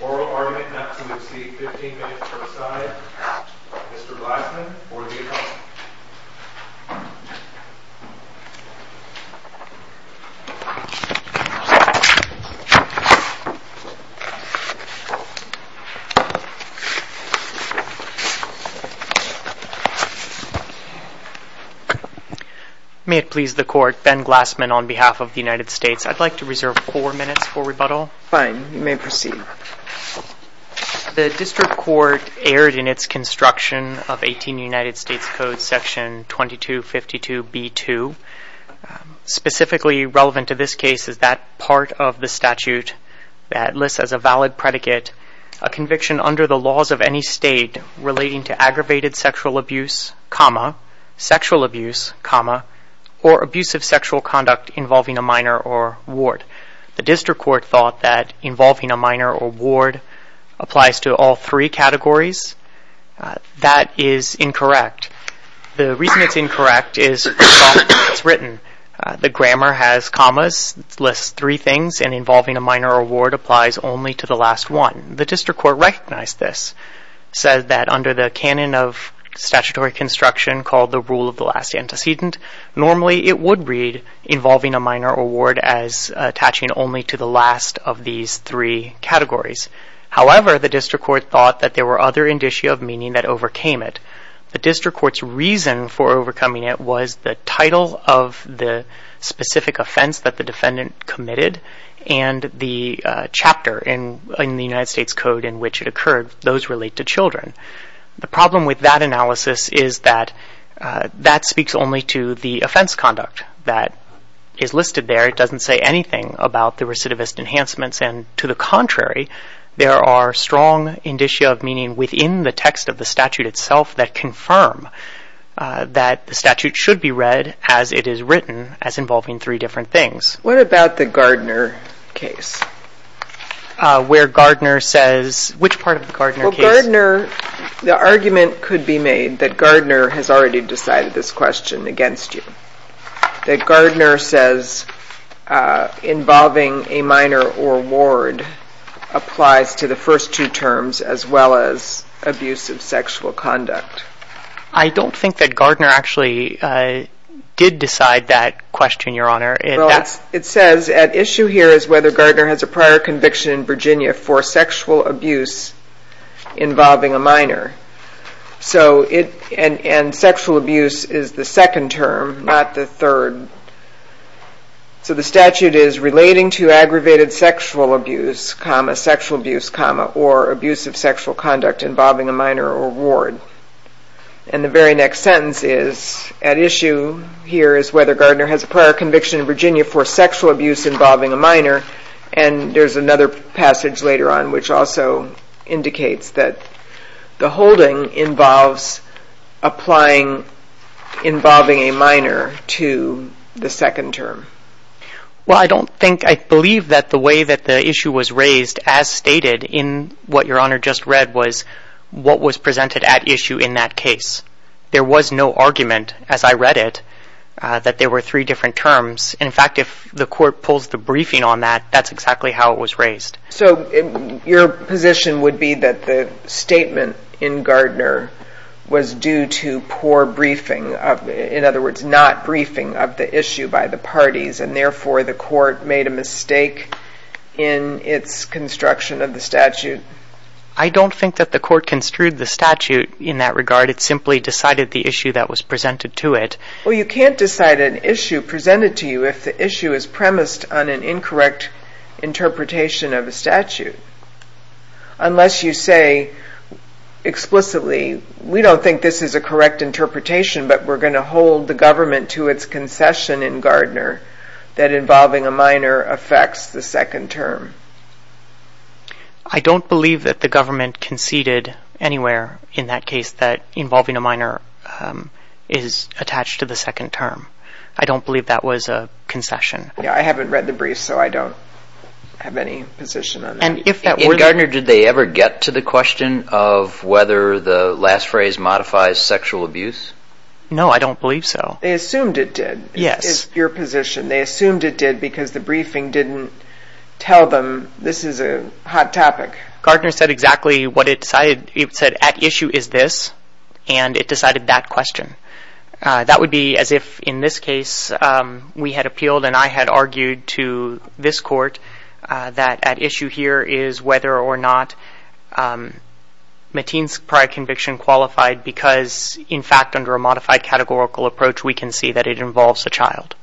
Oral argument not to exceed 15 minutes per side. Mr. Glassman, Board of the Attorney. May it please the court, Ben Glassman on behalf of the United States. I'd like to reserve four minutes for rebuttal. Fine, you may proceed. The district court erred in its construction of 18 United States Code section 2252B2. Specifically relevant to this case is that part of the statute that lists as a valid predicate a conviction under the laws of any state relating to aggravated sexual abuse, sexual abuse, or abusive sexual conduct involving a minor or ward. The district court thought that involving a minor or ward applies to all three categories. That is incorrect. The reason it's incorrect is the way it's written. The grammar has commas, lists three things, and involving a minor or ward applies only to the last one. The district court recognized this, said that under the canon of statutory construction called the rule of the last antecedent, normally it would read involving a minor or ward as attaching only to the last of these three categories. However, the district court thought that there were other indicia of meaning that overcame it. The district court's reason for overcoming it was the title of the specific offense that the defendant committed and the chapter in the United States Code in which it occurred. Those relate to children. The problem with that analysis is that that speaks only to the offense conduct that is listed there. It doesn't say anything about the recidivist enhancements. And to the contrary, there are strong indicia of meaning within the text of the statute itself that confirm that the statute should be read as it is written as involving three different things. What about the Gardner case? Where Gardner says, which part of the Gardner case? Well, Gardner, the argument could be made that Gardner has already decided this question against you. That Gardner says involving a minor or ward applies to the first two terms as well as abuse of sexual conduct. I don't think that Gardner actually did decide that question, Your Honor. It says, at issue here is whether Gardner has a prior conviction in Virginia for sexual abuse involving a minor. And sexual abuse is the second term, not the third. So the statute is relating to aggravated sexual abuse, sexual abuse, or abuse of sexual conduct involving a minor or ward. And the very next sentence is, at issue here is whether Gardner has a prior conviction in Virginia for sexual abuse involving a minor. And there's another passage later on which also indicates that the holding involves applying involving a minor to the second term. Well, I don't think, I believe that the way that the issue was raised as stated in what Your Honor just read was what was presented at issue in that case. There was no argument, as I read it, that there were three different terms. In fact, if the court pulls the briefing on that, that's exactly how it was raised. So your position would be that the statement in Gardner was due to poor briefing, in other words, not briefing of the issue by the parties, and therefore the court made a mistake in its construction of the statute? I don't think that the court construed the statute in that regard. It simply decided the issue that was presented to it. Well, you can't decide an issue presented to you if the issue is premised on an incorrect interpretation of a statute. Unless you say explicitly, we don't think this is a correct interpretation, but we're going to hold the government to its concession in Gardner that involving a minor affects the second term. I don't believe that the government conceded anywhere in that case that involving a minor is attached to the second term. I don't believe that was a concession. Yeah, I haven't read the brief, so I don't have any position on that. In Gardner, did they ever get to the question of whether the last phrase modifies sexual abuse? No, I don't believe so. They assumed it did. Yes. They assumed it did because the briefing didn't tell them this is a hot topic. Gardner said exactly what it said. It said, at issue is this, and it decided that question. That would be as if in this case we had appealed and I had argued to this court that at issue here is whether or not Mateen's prior conviction qualified because, in fact, under a modified categorical approach, we can see that it involves a child.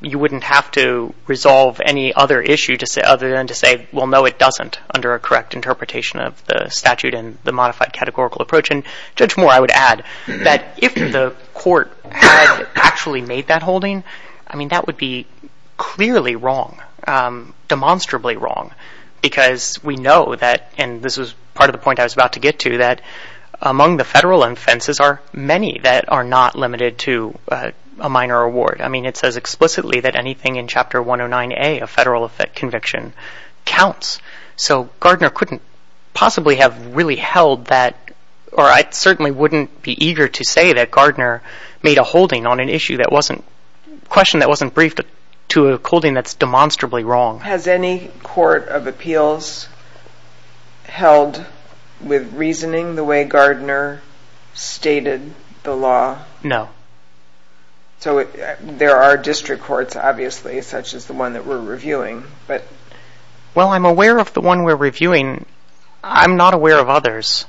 You wouldn't have to resolve any other issue other than to say, well, no, it doesn't, under a correct interpretation of the statute and the modified categorical approach. And Judge Moore, I would add that if the court had actually made that holding, I mean, that would be clearly wrong, demonstrably wrong, because we know that, and this was part of the point I was about to get to, that among the federal offenses are many that are not limited to a minor award. I mean, it says explicitly that anything in Chapter 109A, a federal conviction, counts. So Gardner couldn't possibly have really held that, or I certainly wouldn't be eager to say that Gardner made a holding on an issue that wasn't, a question that wasn't briefed to a holding that's demonstrably wrong. Has any court of appeals held with reasoning the way Gardner stated the law? No. So there are district courts, obviously, such as the one that we're reviewing. Well, I'm aware of the one we're reviewing. I'm not aware of others.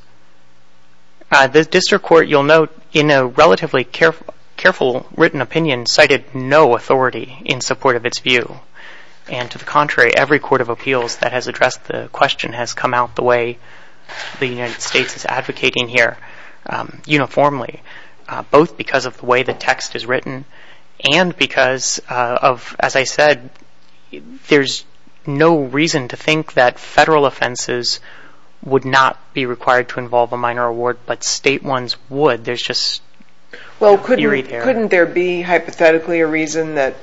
The district court, you'll note, in a relatively careful written opinion, cited no authority in support of its view. And to the contrary, every court of appeals that has addressed the question has come out the way the United States is advocating here, uniformly, both because of the way the text is written and because of, as I said, there's no reason to think that federal offenses would not be required to involve a minor award, but state ones would. There's just... Well, couldn't there be, hypothetically, a reason that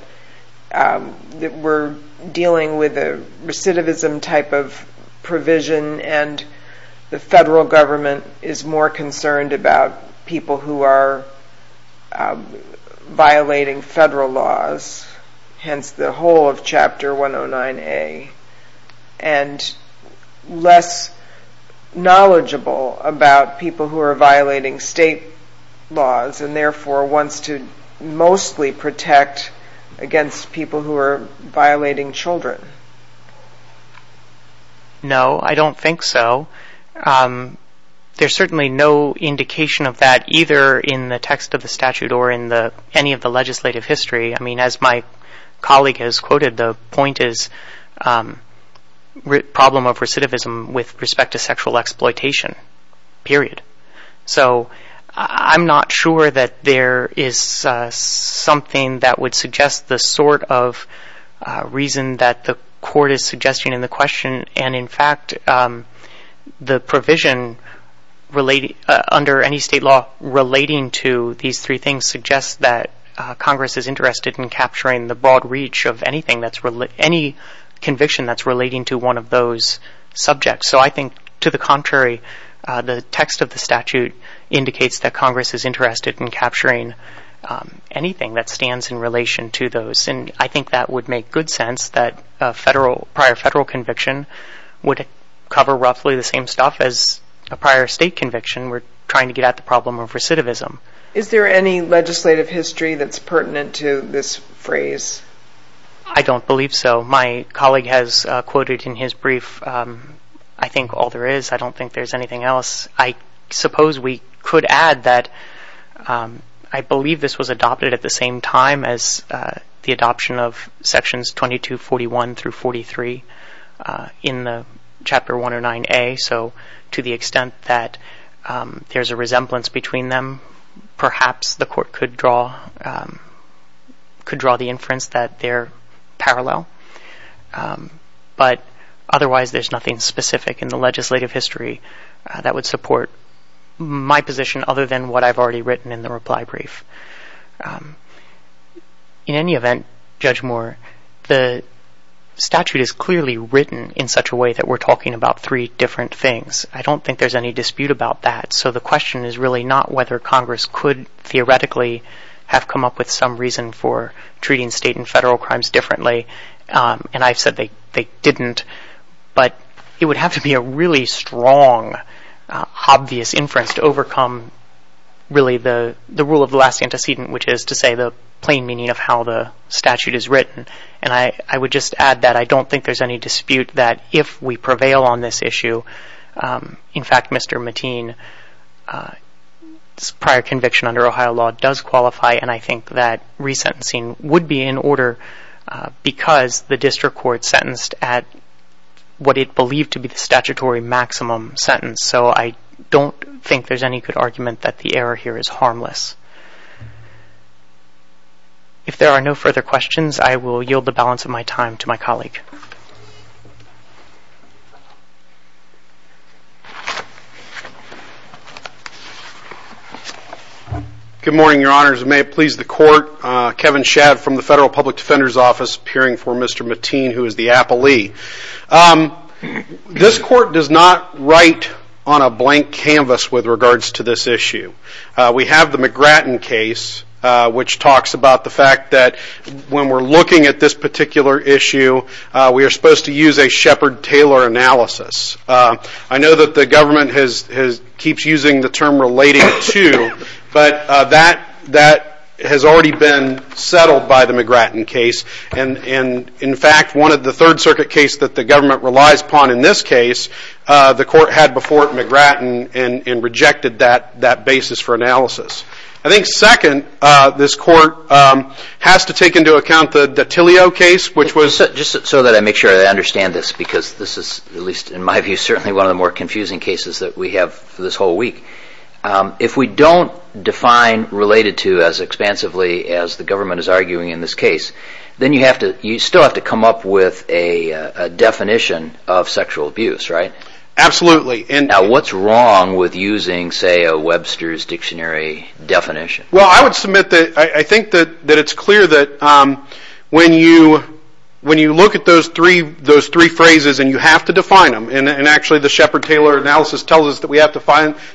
we're dealing with a recidivism type of provision and the federal government is more concerned about people who are violating federal laws? Hence the whole of Chapter 109A. And less knowledgeable about people who are violating state laws, and therefore wants to mostly protect against people who are violating children. No, I don't think so. There's certainly no indication of that, either in the text of the statute or in any of the legislative history. I mean, as my colleague has quoted, the point is problem of recidivism with respect to sexual exploitation, period. So I'm not sure that there is something that would suggest the sort of reason that the court is suggesting in the question. And in fact, the provision under any state law relating to these three things suggests that Congress is interested in capturing the broad reach of any conviction that's relating to one of those subjects. So I think, to the contrary, the text of the statute indicates that Congress is interested in capturing anything that stands in relation to those. And I think that would make good sense that a prior federal conviction would cover roughly the same stuff as a prior state conviction. We're trying to get at the problem of recidivism. Is there any legislative history that's pertinent to this phrase? I don't believe so. My colleague has quoted in his brief, I think all there is, I don't think there's anything else. I suppose we could add that I believe this was adopted at the same time as the adoption of sections 2241 through 43 in Chapter 109A. So to the extent that there's a resemblance between them, perhaps the court could draw the inference that they're parallel. But otherwise, there's nothing specific in the legislative history that would support my position other than what I've already written in the reply brief. In any event, Judge Moore, the statute is clearly written in such a way that we're talking about three different things. I don't think there's any dispute about that. So the question is really not whether Congress could theoretically have come up with some reason for treating state and federal crimes differently. And I've said they didn't. But it would have to be a really strong, obvious inference to overcome really the rule of the last antecedent, which is to say the plain meaning of how the statute is written. And I would just add that I don't think there's any dispute that if we prevail on this issue, in fact, Mr. Mateen's prior conviction under Ohio law does qualify, and I think that resentencing would be in order because the district court sentenced at what it believed to be the statutory maximum sentence. So I don't think there's any good argument that the error here is harmless. If there are no further questions, I will yield the balance of my time to my colleague. Good morning, Your Honors. May it please the Court. Kevin Shadd from the Federal Public Defender's Office, peering for Mr. Mateen, who is the appellee. This Court does not write on a blank canvas with regards to this issue. We have the McGratton case, which talks about the fact that when we're looking at this particular issue, we are supposed to use a Shepard-Taylor analysis. I know that the government keeps using the term related to, but that has already been settled by the McGratton case. And, in fact, one of the Third Circuit cases that the government relies upon in this case, the Court had before McGratton and rejected that basis for analysis. I think, second, this Court has to take into account the Dottilio case, which was... Just so that I make sure that I understand this, because this is, at least in my view, certainly one of the more confusing cases that we have for this whole week. If we don't define related to as expansively as the government is arguing in this case, then you still have to come up with a definition of sexual abuse, right? Absolutely. Now, what's wrong with using, say, a Webster's Dictionary definition? Well, I would submit that I think that it's clear that when you look at those three phrases, and you have to define them, and actually the Shepard-Taylor analysis tells us that we have to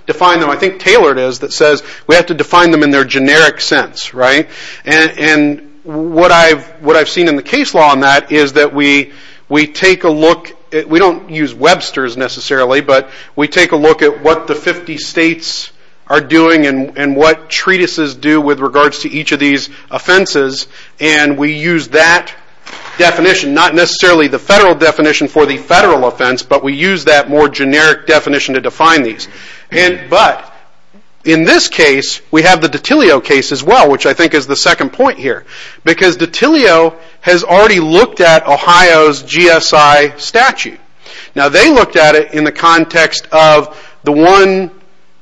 define them. I think Taylor says that we have to define them in their generic sense, right? And what I've seen in the case law on that is that we take a look... We don't use Webster's necessarily, but we take a look at what the 50 states are doing and what treatises do with regards to each of these offenses, and we use that definition. Not necessarily the federal definition for the federal offense, but we use that more generic definition to define these. But in this case, we have the Datilio case as well, which I think is the second point here, because Datilio has already looked at Ohio's GSI statute. Now, they looked at it in the context of the one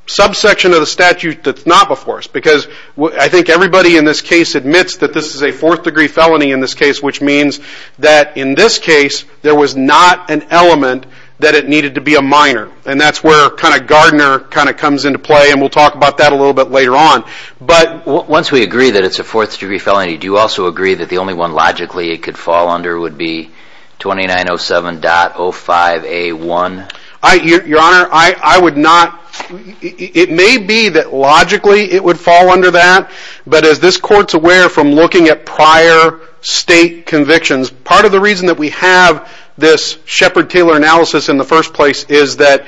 subsection of the statute that's not before us, because I think everybody in this case admits that this is a fourth-degree felony in this case, which means that in this case, there was not an element that it needed to be a minor, and that's where Gardner comes into play, and we'll talk about that a little bit later on. But once we agree that it's a fourth-degree felony, do you also agree that the only one logically it could fall under would be 2907.05A1? Your Honor, it may be that logically it would fall under that, but as this Court's aware from looking at prior state convictions, part of the reason that we have this Shepard-Taylor analysis in the first place is that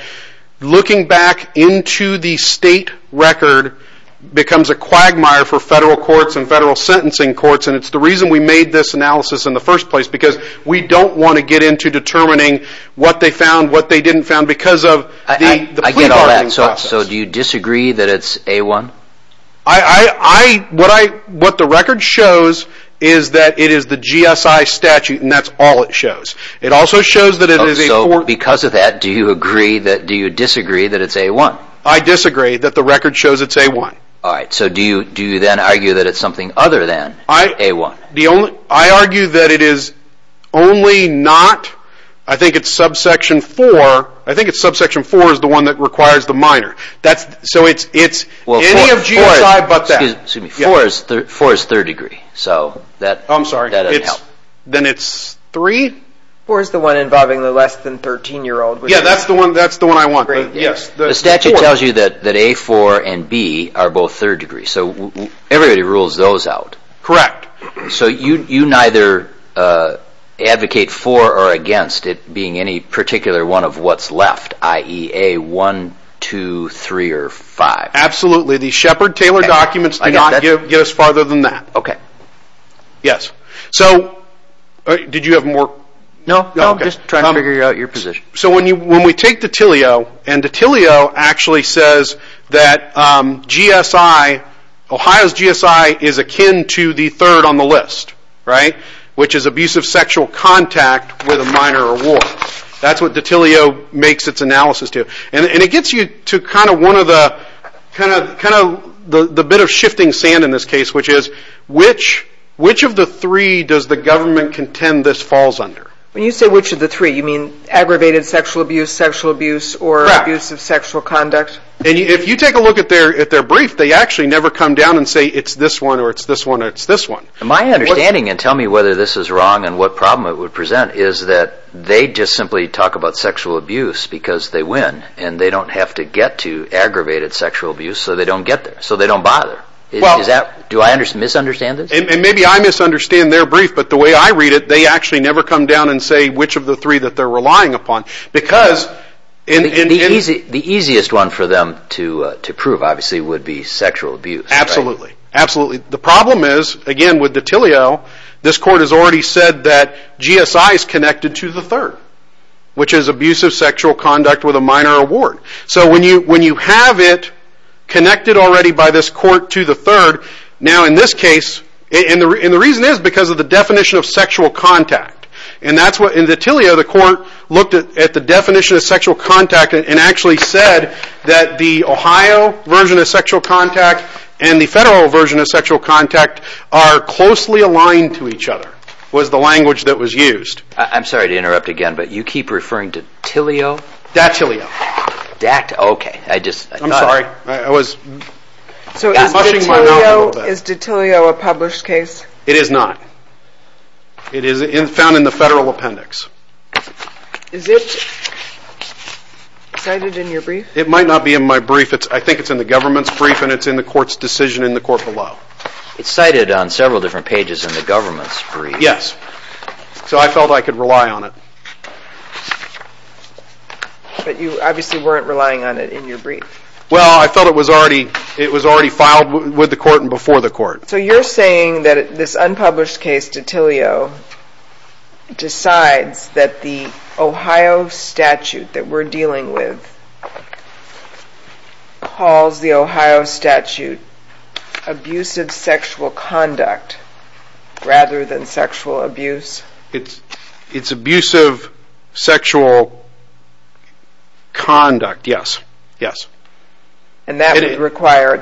looking back into the state record becomes a quagmire for federal courts and federal sentencing courts, and it's the reason we made this analysis in the first place, because we don't want to get into determining what they found, what they didn't find, because of the plea bargaining process. I get all that. So do you disagree that it's A1? What the record shows is that it is the GSI statute, and that's all it shows. So because of that, do you disagree that it's A1? I disagree that the record shows it's A1. Alright, so do you then argue that it's something other than A1? I argue that it is only not, I think it's subsection 4, I think it's subsection 4 is the one that requires the minor. So it's any of GSI but that. Excuse me, 4 is third-degree, so that doesn't help. Then it's 3? 4 is the one involving the less than 13-year-old. Yeah, that's the one I want. The statute tells you that A4 and B are both third-degree, so everybody rules those out. Correct. So you neither advocate for or against it being any particular one of what's left, i.e. A1, 2, 3, or 5? Absolutely. The Shepard-Taylor documents do not get us farther than that. Yes, so did you have more? No, I'm just trying to figure out your position. So when we take Dottilio, and Dottilio actually says that Ohio's GSI is akin to the third on the list, which is abusive sexual contact with a minor or war. That's what Dottilio makes its analysis to. It gets you to the bit of shifting sand in this case, which is which of the three does the government contend this falls under? When you say which of the three, you mean aggravated sexual abuse, sexual abuse, or abuse of sexual conduct? Correct. If you take a look at their brief, they actually never come down and say it's this one or it's this one or it's this one. My understanding, and tell me whether this is wrong and what problem it would present, is that they just simply talk about sexual abuse because they win, and they don't have to get to aggravated sexual abuse so they don't get there, so they don't bother. Do I misunderstand this? Maybe I misunderstand their brief, but the way I read it, they actually never come down and say which of the three that they're relying upon. The easiest one for them to prove, obviously, would be sexual abuse. Absolutely. The problem is, again with Dottilio, this court has already said that GSI is connected to the third, which is abuse of sexual conduct with a minor award. When you have it connected already by this court to the third, now in this case, and the reason is because of the definition of sexual contact. In Dottilio, the court looked at the definition of sexual contact and actually said that the Ohio version of sexual contact and the federal version of sexual contact are closely aligned to each other, was the language that was used. I'm sorry to interrupt again, but you keep referring to Tillio? Dottilio. Dottilio, okay. I'm sorry. I was mushing my mouth a little bit. Is Dottilio a published case? It is not. It is found in the federal appendix. Is it cited in your brief? It might not be in my brief. I think it's in the government's brief and it's in the court's decision in the court below. It's cited on several different pages in the government's brief. Yes. So I felt I could rely on it. But you obviously weren't relying on it in your brief. So you're saying that this unpublished case, Dottilio, decides that the Ohio statute that we're dealing with calls the Ohio statute abusive sexual conduct rather than sexual abuse? It's abusive sexual conduct, yes. And that would require,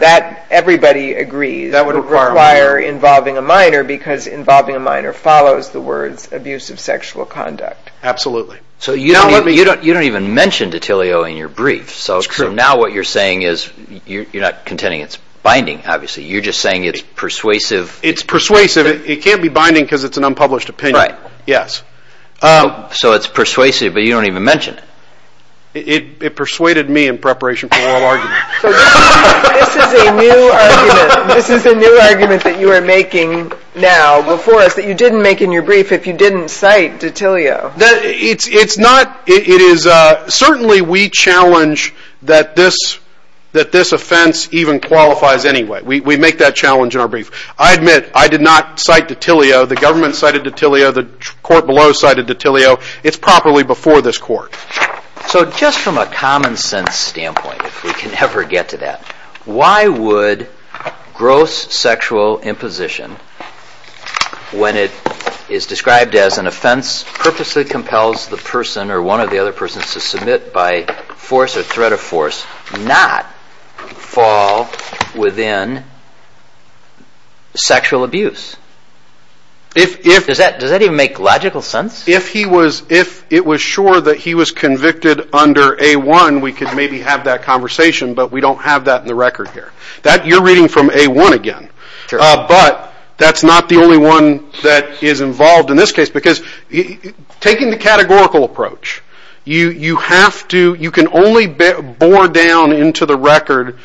everybody agrees. That would require involving a minor because involving a minor follows the words abusive sexual conduct. Absolutely. So you don't even mention Dottilio in your brief. So now what you're saying is, you're not contending it's binding, obviously. You're just saying it's persuasive. It's persuasive. It can't be binding because it's an unpublished opinion. Right. Yes. So it's persuasive, but you don't even mention it. It persuaded me in preparation for oral argument. This is a new argument. This is a new argument that you are making now before us that you didn't make in your brief if you didn't cite Dottilio. It's not. Certainly we challenge that this offense even qualifies anyway. We make that challenge in our brief. I admit I did not cite Dottilio. The government cited Dottilio. The court below cited Dottilio. It's properly before this court. So just from a common sense standpoint, if we can ever get to that, why would gross sexual imposition, when it is described as an offense purposely compels the person or one or the other person to submit by force or threat of force, not fall within sexual abuse? Does that even make logical sense? If it was sure that he was convicted under A-1, we could maybe have that conversation, but we don't have that in the record here. You're reading from A-1 again. But that's not the only one that is involved in this case because taking the categorical approach, you can only bore down into the record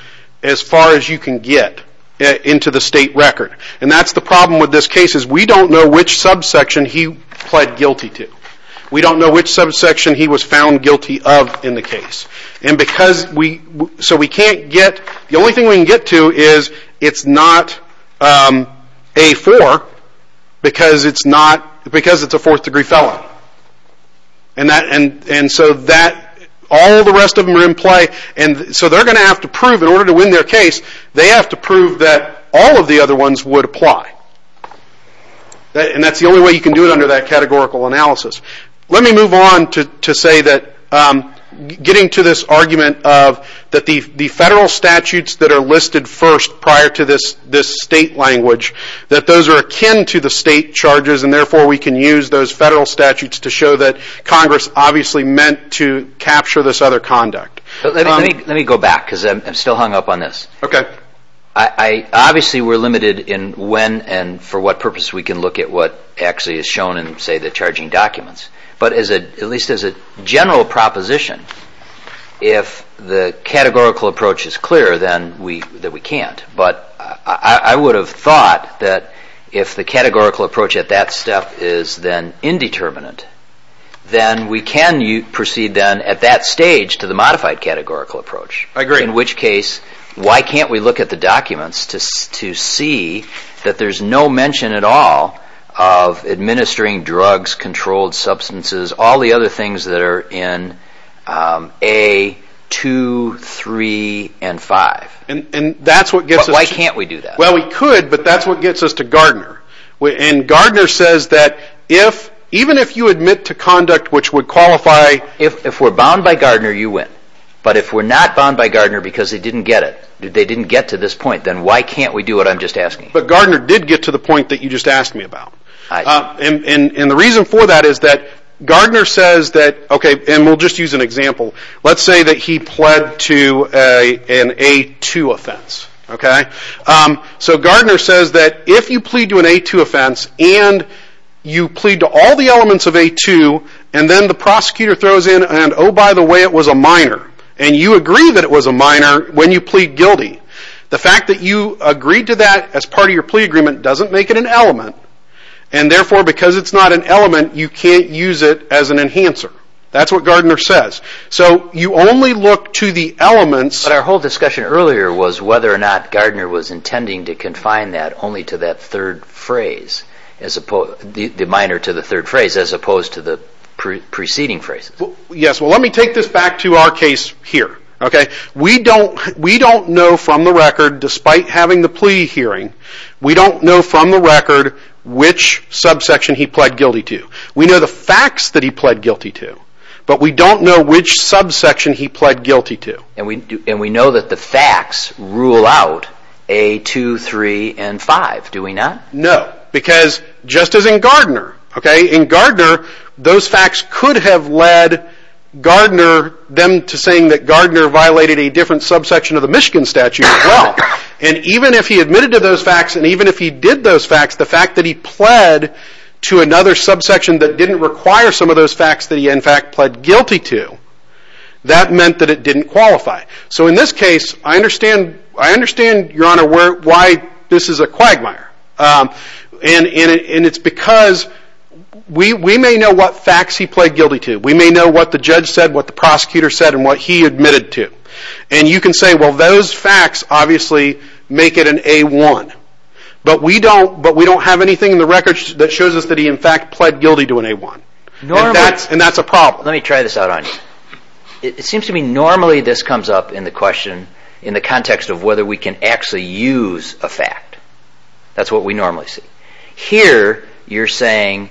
as far as you can get into the state record. And that's the problem with this case is we don't know which subsection he pled guilty to. We don't know which subsection he was found guilty of in the case. The only thing we can get to is it's not A-4 because it's a fourth degree felon. All the rest of them are in play. So they're going to have to prove, in order to win their case, they have to prove that all of the other ones would apply. And that's the only way you can do it under that categorical analysis. Let me move on to say that getting to this argument that the federal statutes that are listed first prior to this state language, that those are akin to the state charges and therefore we can use those federal statutes to show that Congress obviously meant to capture this other conduct. Let me go back because I'm still hung up on this. Obviously we're limited in when and for what purpose we can look at what actually is shown in say the charging documents. But at least as a general proposition, if the categorical approach is clear, then we can't. But I would have thought that if the categorical approach at that step is then indeterminate, then we can proceed at that stage to the modified categorical approach. In which case, why can't we look at the documents to see that there's no mention at all of administering drugs, controlled substances, all the other things that are in A, 2, 3, and 5. Why can't we do that? Well we could, but that's what gets us to Gardner. And Gardner says that even if you admit to conduct which would qualify... If we're bound by Gardner, you win. But if we're not bound by Gardner because they didn't get it, they didn't get to this point, then why can't we do what I'm just asking? But Gardner did get to the point that you just asked me about. And the reason for that is that Gardner says that, and we'll just use an example, let's say that he pled to an A, 2 offense. So Gardner says that if you plead to an A, 2 offense, and you plead to all the elements of A, 2, and then the prosecutor throws in, and oh by the way, it was a minor. And you agree that it was a minor when you plead guilty. The fact that you agreed to that as part of your plea agreement doesn't make it an element. And therefore, because it's not an element, you can't use it as an enhancer. That's what Gardner says. So you only look to the elements... But our whole discussion earlier was whether or not Gardner was intending to confine that only to that third phrase, the minor to the third phrase, as opposed to the preceding phrases. Yes, well let me take this back to our case here. We don't know from the record, despite having the plea hearing, we don't know from the record which subsection he pled guilty to. We know the facts that he pled guilty to, but we don't know which subsection he pled guilty to. And we know that the facts rule out A, 2, 3, and 5, do we not? No, because just as in Gardner. In Gardner, those facts could have led Gardner, them to saying that Gardner violated a different subsection of the Michigan statute as well. And even if he admitted to those facts, and even if he did those facts, the fact that he pled to another subsection that didn't require some of those facts that he in fact pled guilty to, that meant that it didn't qualify. So in this case, I understand, Your Honor, why this is a quagmire. And it's because we may know what facts he pled guilty to. We may know what the judge said, what the prosecutor said, and what he admitted to. And you can say, well those facts obviously make it an A, 1. But we don't have anything in the record that shows us that he in fact pled guilty to an A, 1. And that's a problem. Well, let me try this out on you. It seems to me normally this comes up in the question, in the context of whether we can actually use a fact. That's what we normally see. Here, you're saying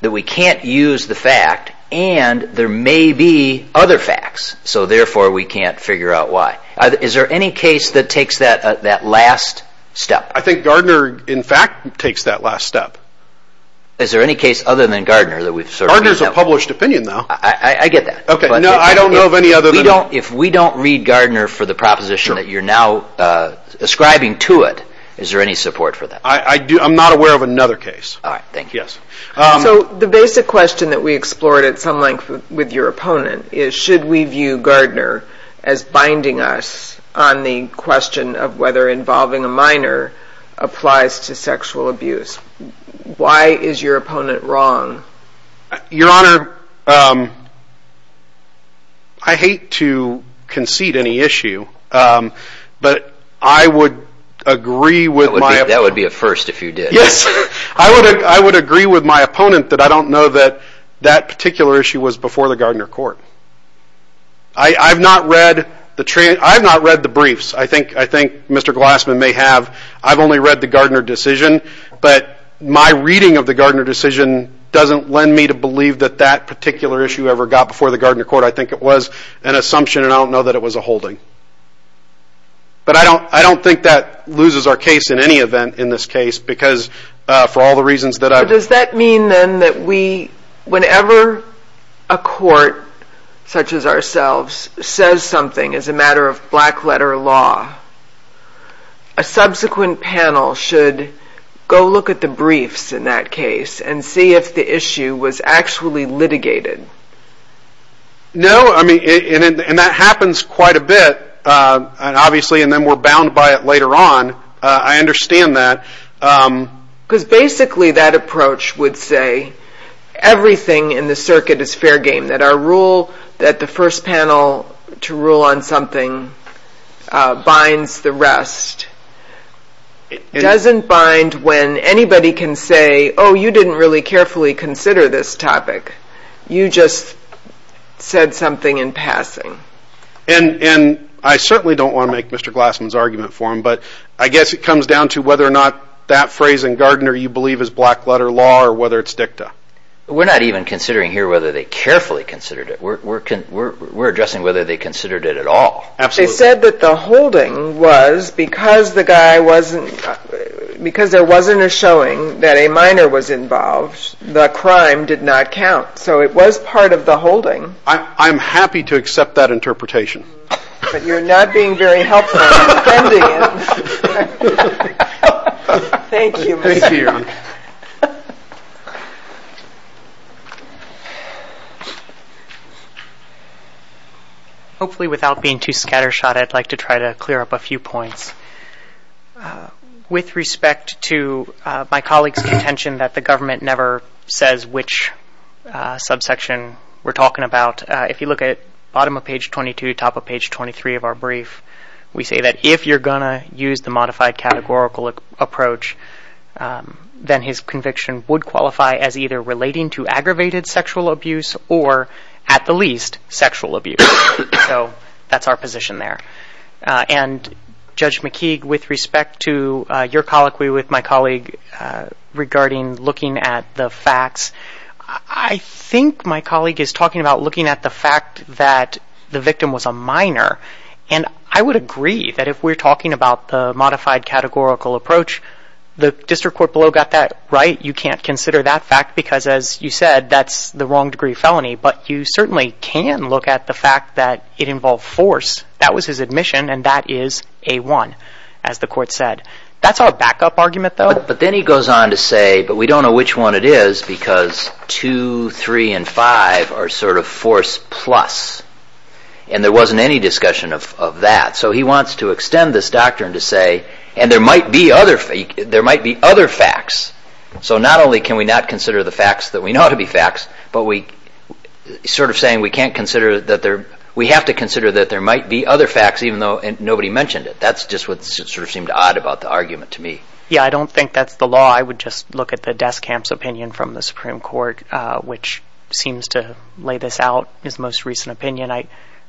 that we can't use the fact, and there may be other facts, so therefore we can't figure out why. Is there any case that takes that last step? I think Gardner in fact takes that last step. Is there any case other than Gardner that we've sort of... Gardner's a published opinion, though. I get that. No, I don't know of any other than... If we don't read Gardner for the proposition that you're now ascribing to it, is there any support for that? I'm not aware of another case. All right, thank you. So the basic question that we explored at some length with your opponent is, should we view Gardner as binding us on the question of whether involving a minor applies to sexual abuse? Why is your opponent wrong? Your Honor, I hate to concede any issue, but I would agree with my... That would be a first if you did. Yes, I would agree with my opponent that I don't know that that particular issue was before the Gardner court. I've not read the briefs. I think Mr. Glassman may have. I've only read the Gardner decision, but my reading of the Gardner decision doesn't lend me to believe that that particular issue ever got before the Gardner court. I think it was an assumption, and I don't know that it was a holding. But I don't think that loses our case in any event in this case, because for all the reasons that I've... But does that mean, then, that whenever a court such as ourselves says something as a matter of black-letter law, a subsequent panel should go look at the briefs in that case and see if the issue was actually litigated? No, I mean, and that happens quite a bit, obviously, and then we're bound by it later on. I understand that. Because basically that approach would say everything in the circuit is fair game, that our rule that the first panel to rule on something binds the rest. It doesn't bind when anybody can say, oh, you didn't really carefully consider this topic. You just said something in passing. And I certainly don't want to make Mr. Glassman's argument for him, but I guess it comes down to whether or not that phrase in Gardner you believe is black-letter law or whether it's dicta. We're not even considering here whether they carefully considered it. We're addressing whether they considered it at all. They said that the holding was because there wasn't a showing that a minor was involved, the crime did not count. So it was part of the holding. I'm happy to accept that interpretation. But you're not being very helpful in defending it. Thank you, Mr. Young. Hopefully without being too scattershot, I'd like to try to clear up a few points. With respect to my colleague's contention that the government never says which subsection we're talking about, if you look at bottom of page 22, top of page 23 of our brief, we say that if you're going to use the modified categorical approach, then his conviction would qualify as either relating to aggravated sexual abuse or, at the least, sexual abuse. So that's our position there. And Judge McKeague, with respect to your colloquy with my colleague regarding looking at the facts, I think my colleague is talking about looking at the fact that the victim was a minor. And I would agree that if we're talking about the modified categorical approach, the district court below got that right. You can't consider that fact because, as you said, that's the wrong degree of felony, but you certainly can look at the fact that it involved force. That was his admission, and that is A-1, as the court said. That's our backup argument, though. But then he goes on to say, but we don't know which one it is because 2, 3, and 5 are sort of force plus, and there wasn't any discussion of that. So he wants to extend this doctrine to say, and there might be other facts. So not only can we not consider the facts that we know to be facts, but we have to consider that there might be other facts even though nobody mentioned it. That's just what seemed odd about the argument to me. Yeah, I don't think that's the law. I would just look at the Deskamp's opinion from the Supreme Court, which seems to lay this out, his most recent opinion. I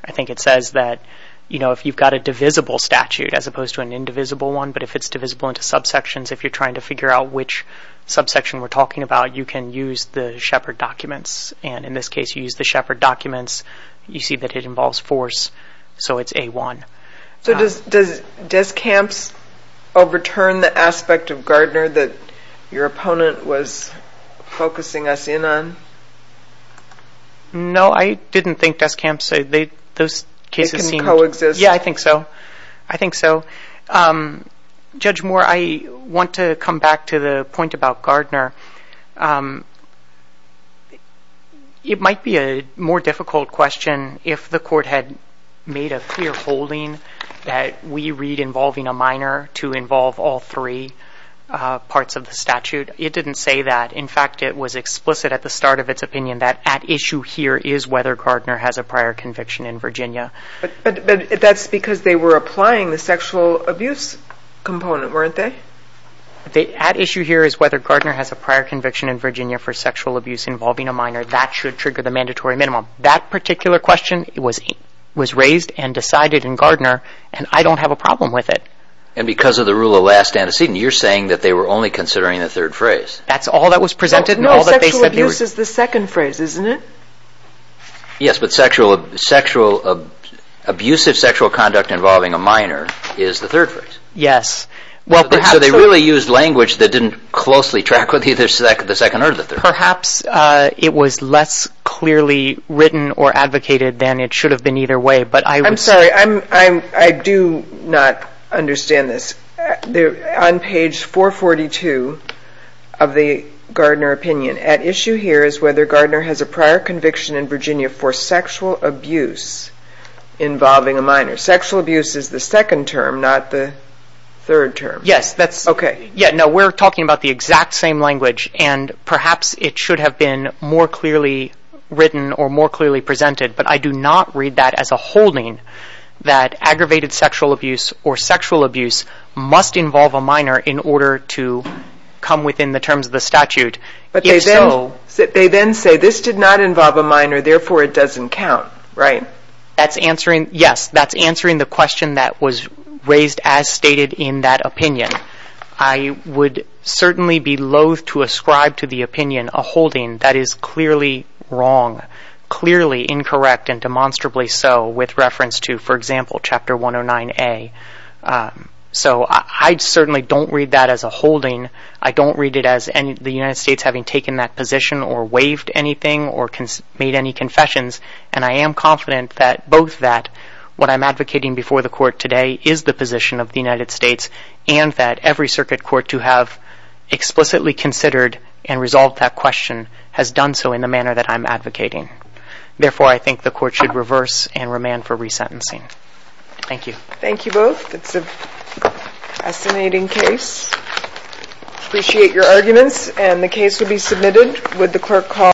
think it says that if you've got a divisible statute as opposed to an indivisible one, but if it's divisible into subsections, if you're trying to figure out which subsection we're talking about, you can use the Shepard documents. And in this case, you use the Shepard documents. You see that it involves force, so it's A-1. So does Deskamp overturn the aspect of Gardner that your opponent was focusing us in on? No, I didn't think Deskamp... They can coexist. Yeah, I think so. I think so. Going back to the point about Gardner, it might be a more difficult question if the Court had made a clear holding that we read involving a minor to involve all three parts of the statute. It didn't say that. In fact, it was explicit at the start of its opinion that at issue here is whether Gardner has a prior conviction in Virginia. But that's because they were applying the sexual abuse component, weren't they? At issue here is whether Gardner has a prior conviction in Virginia for sexual abuse involving a minor. That should trigger the mandatory minimum. That particular question was raised and decided in Gardner, and I don't have a problem with it. And because of the rule of last antecedent, you're saying that they were only considering the third phrase. That's all that was presented. No, sexual abuse is the second phrase, isn't it? Yes, but abusive sexual conduct involving a minor is the third phrase. Yes. So they really used language that didn't closely track with either the second or the third. Perhaps it was less clearly written or advocated than it should have been either way. I'm sorry, I do not understand this. On page 442 of the Gardner opinion, at issue here is whether Gardner has a prior conviction in Virginia for sexual abuse involving a minor. Sexual abuse is the second term, not the third term. Yes, we're talking about the exact same language, and perhaps it should have been more clearly written or more clearly presented, but I do not read that as a holding that aggravated sexual abuse or sexual abuse must involve a minor in order to come within the terms of the statute. But they then say this did not involve a minor, therefore it doesn't count, right? Yes, that's answering the question that was raised as stated in that opinion. I would certainly be loath to ascribe to the opinion a holding that is clearly wrong, clearly incorrect, and demonstrably so, with reference to, for example, Chapter 109A. So I certainly don't read that as a holding. I don't read it as the United States having taken that position or waived anything or made any confessions, and I am confident that both that, what I'm advocating before the Court today is the position of the United States and that every circuit court to have explicitly considered and resolved that question has done so in the manner that I'm advocating. Therefore, I think the Court should reverse and remand for resentencing. Thank you. Thank you both. It's a fascinating case. Appreciate your arguments, and the case will be submitted.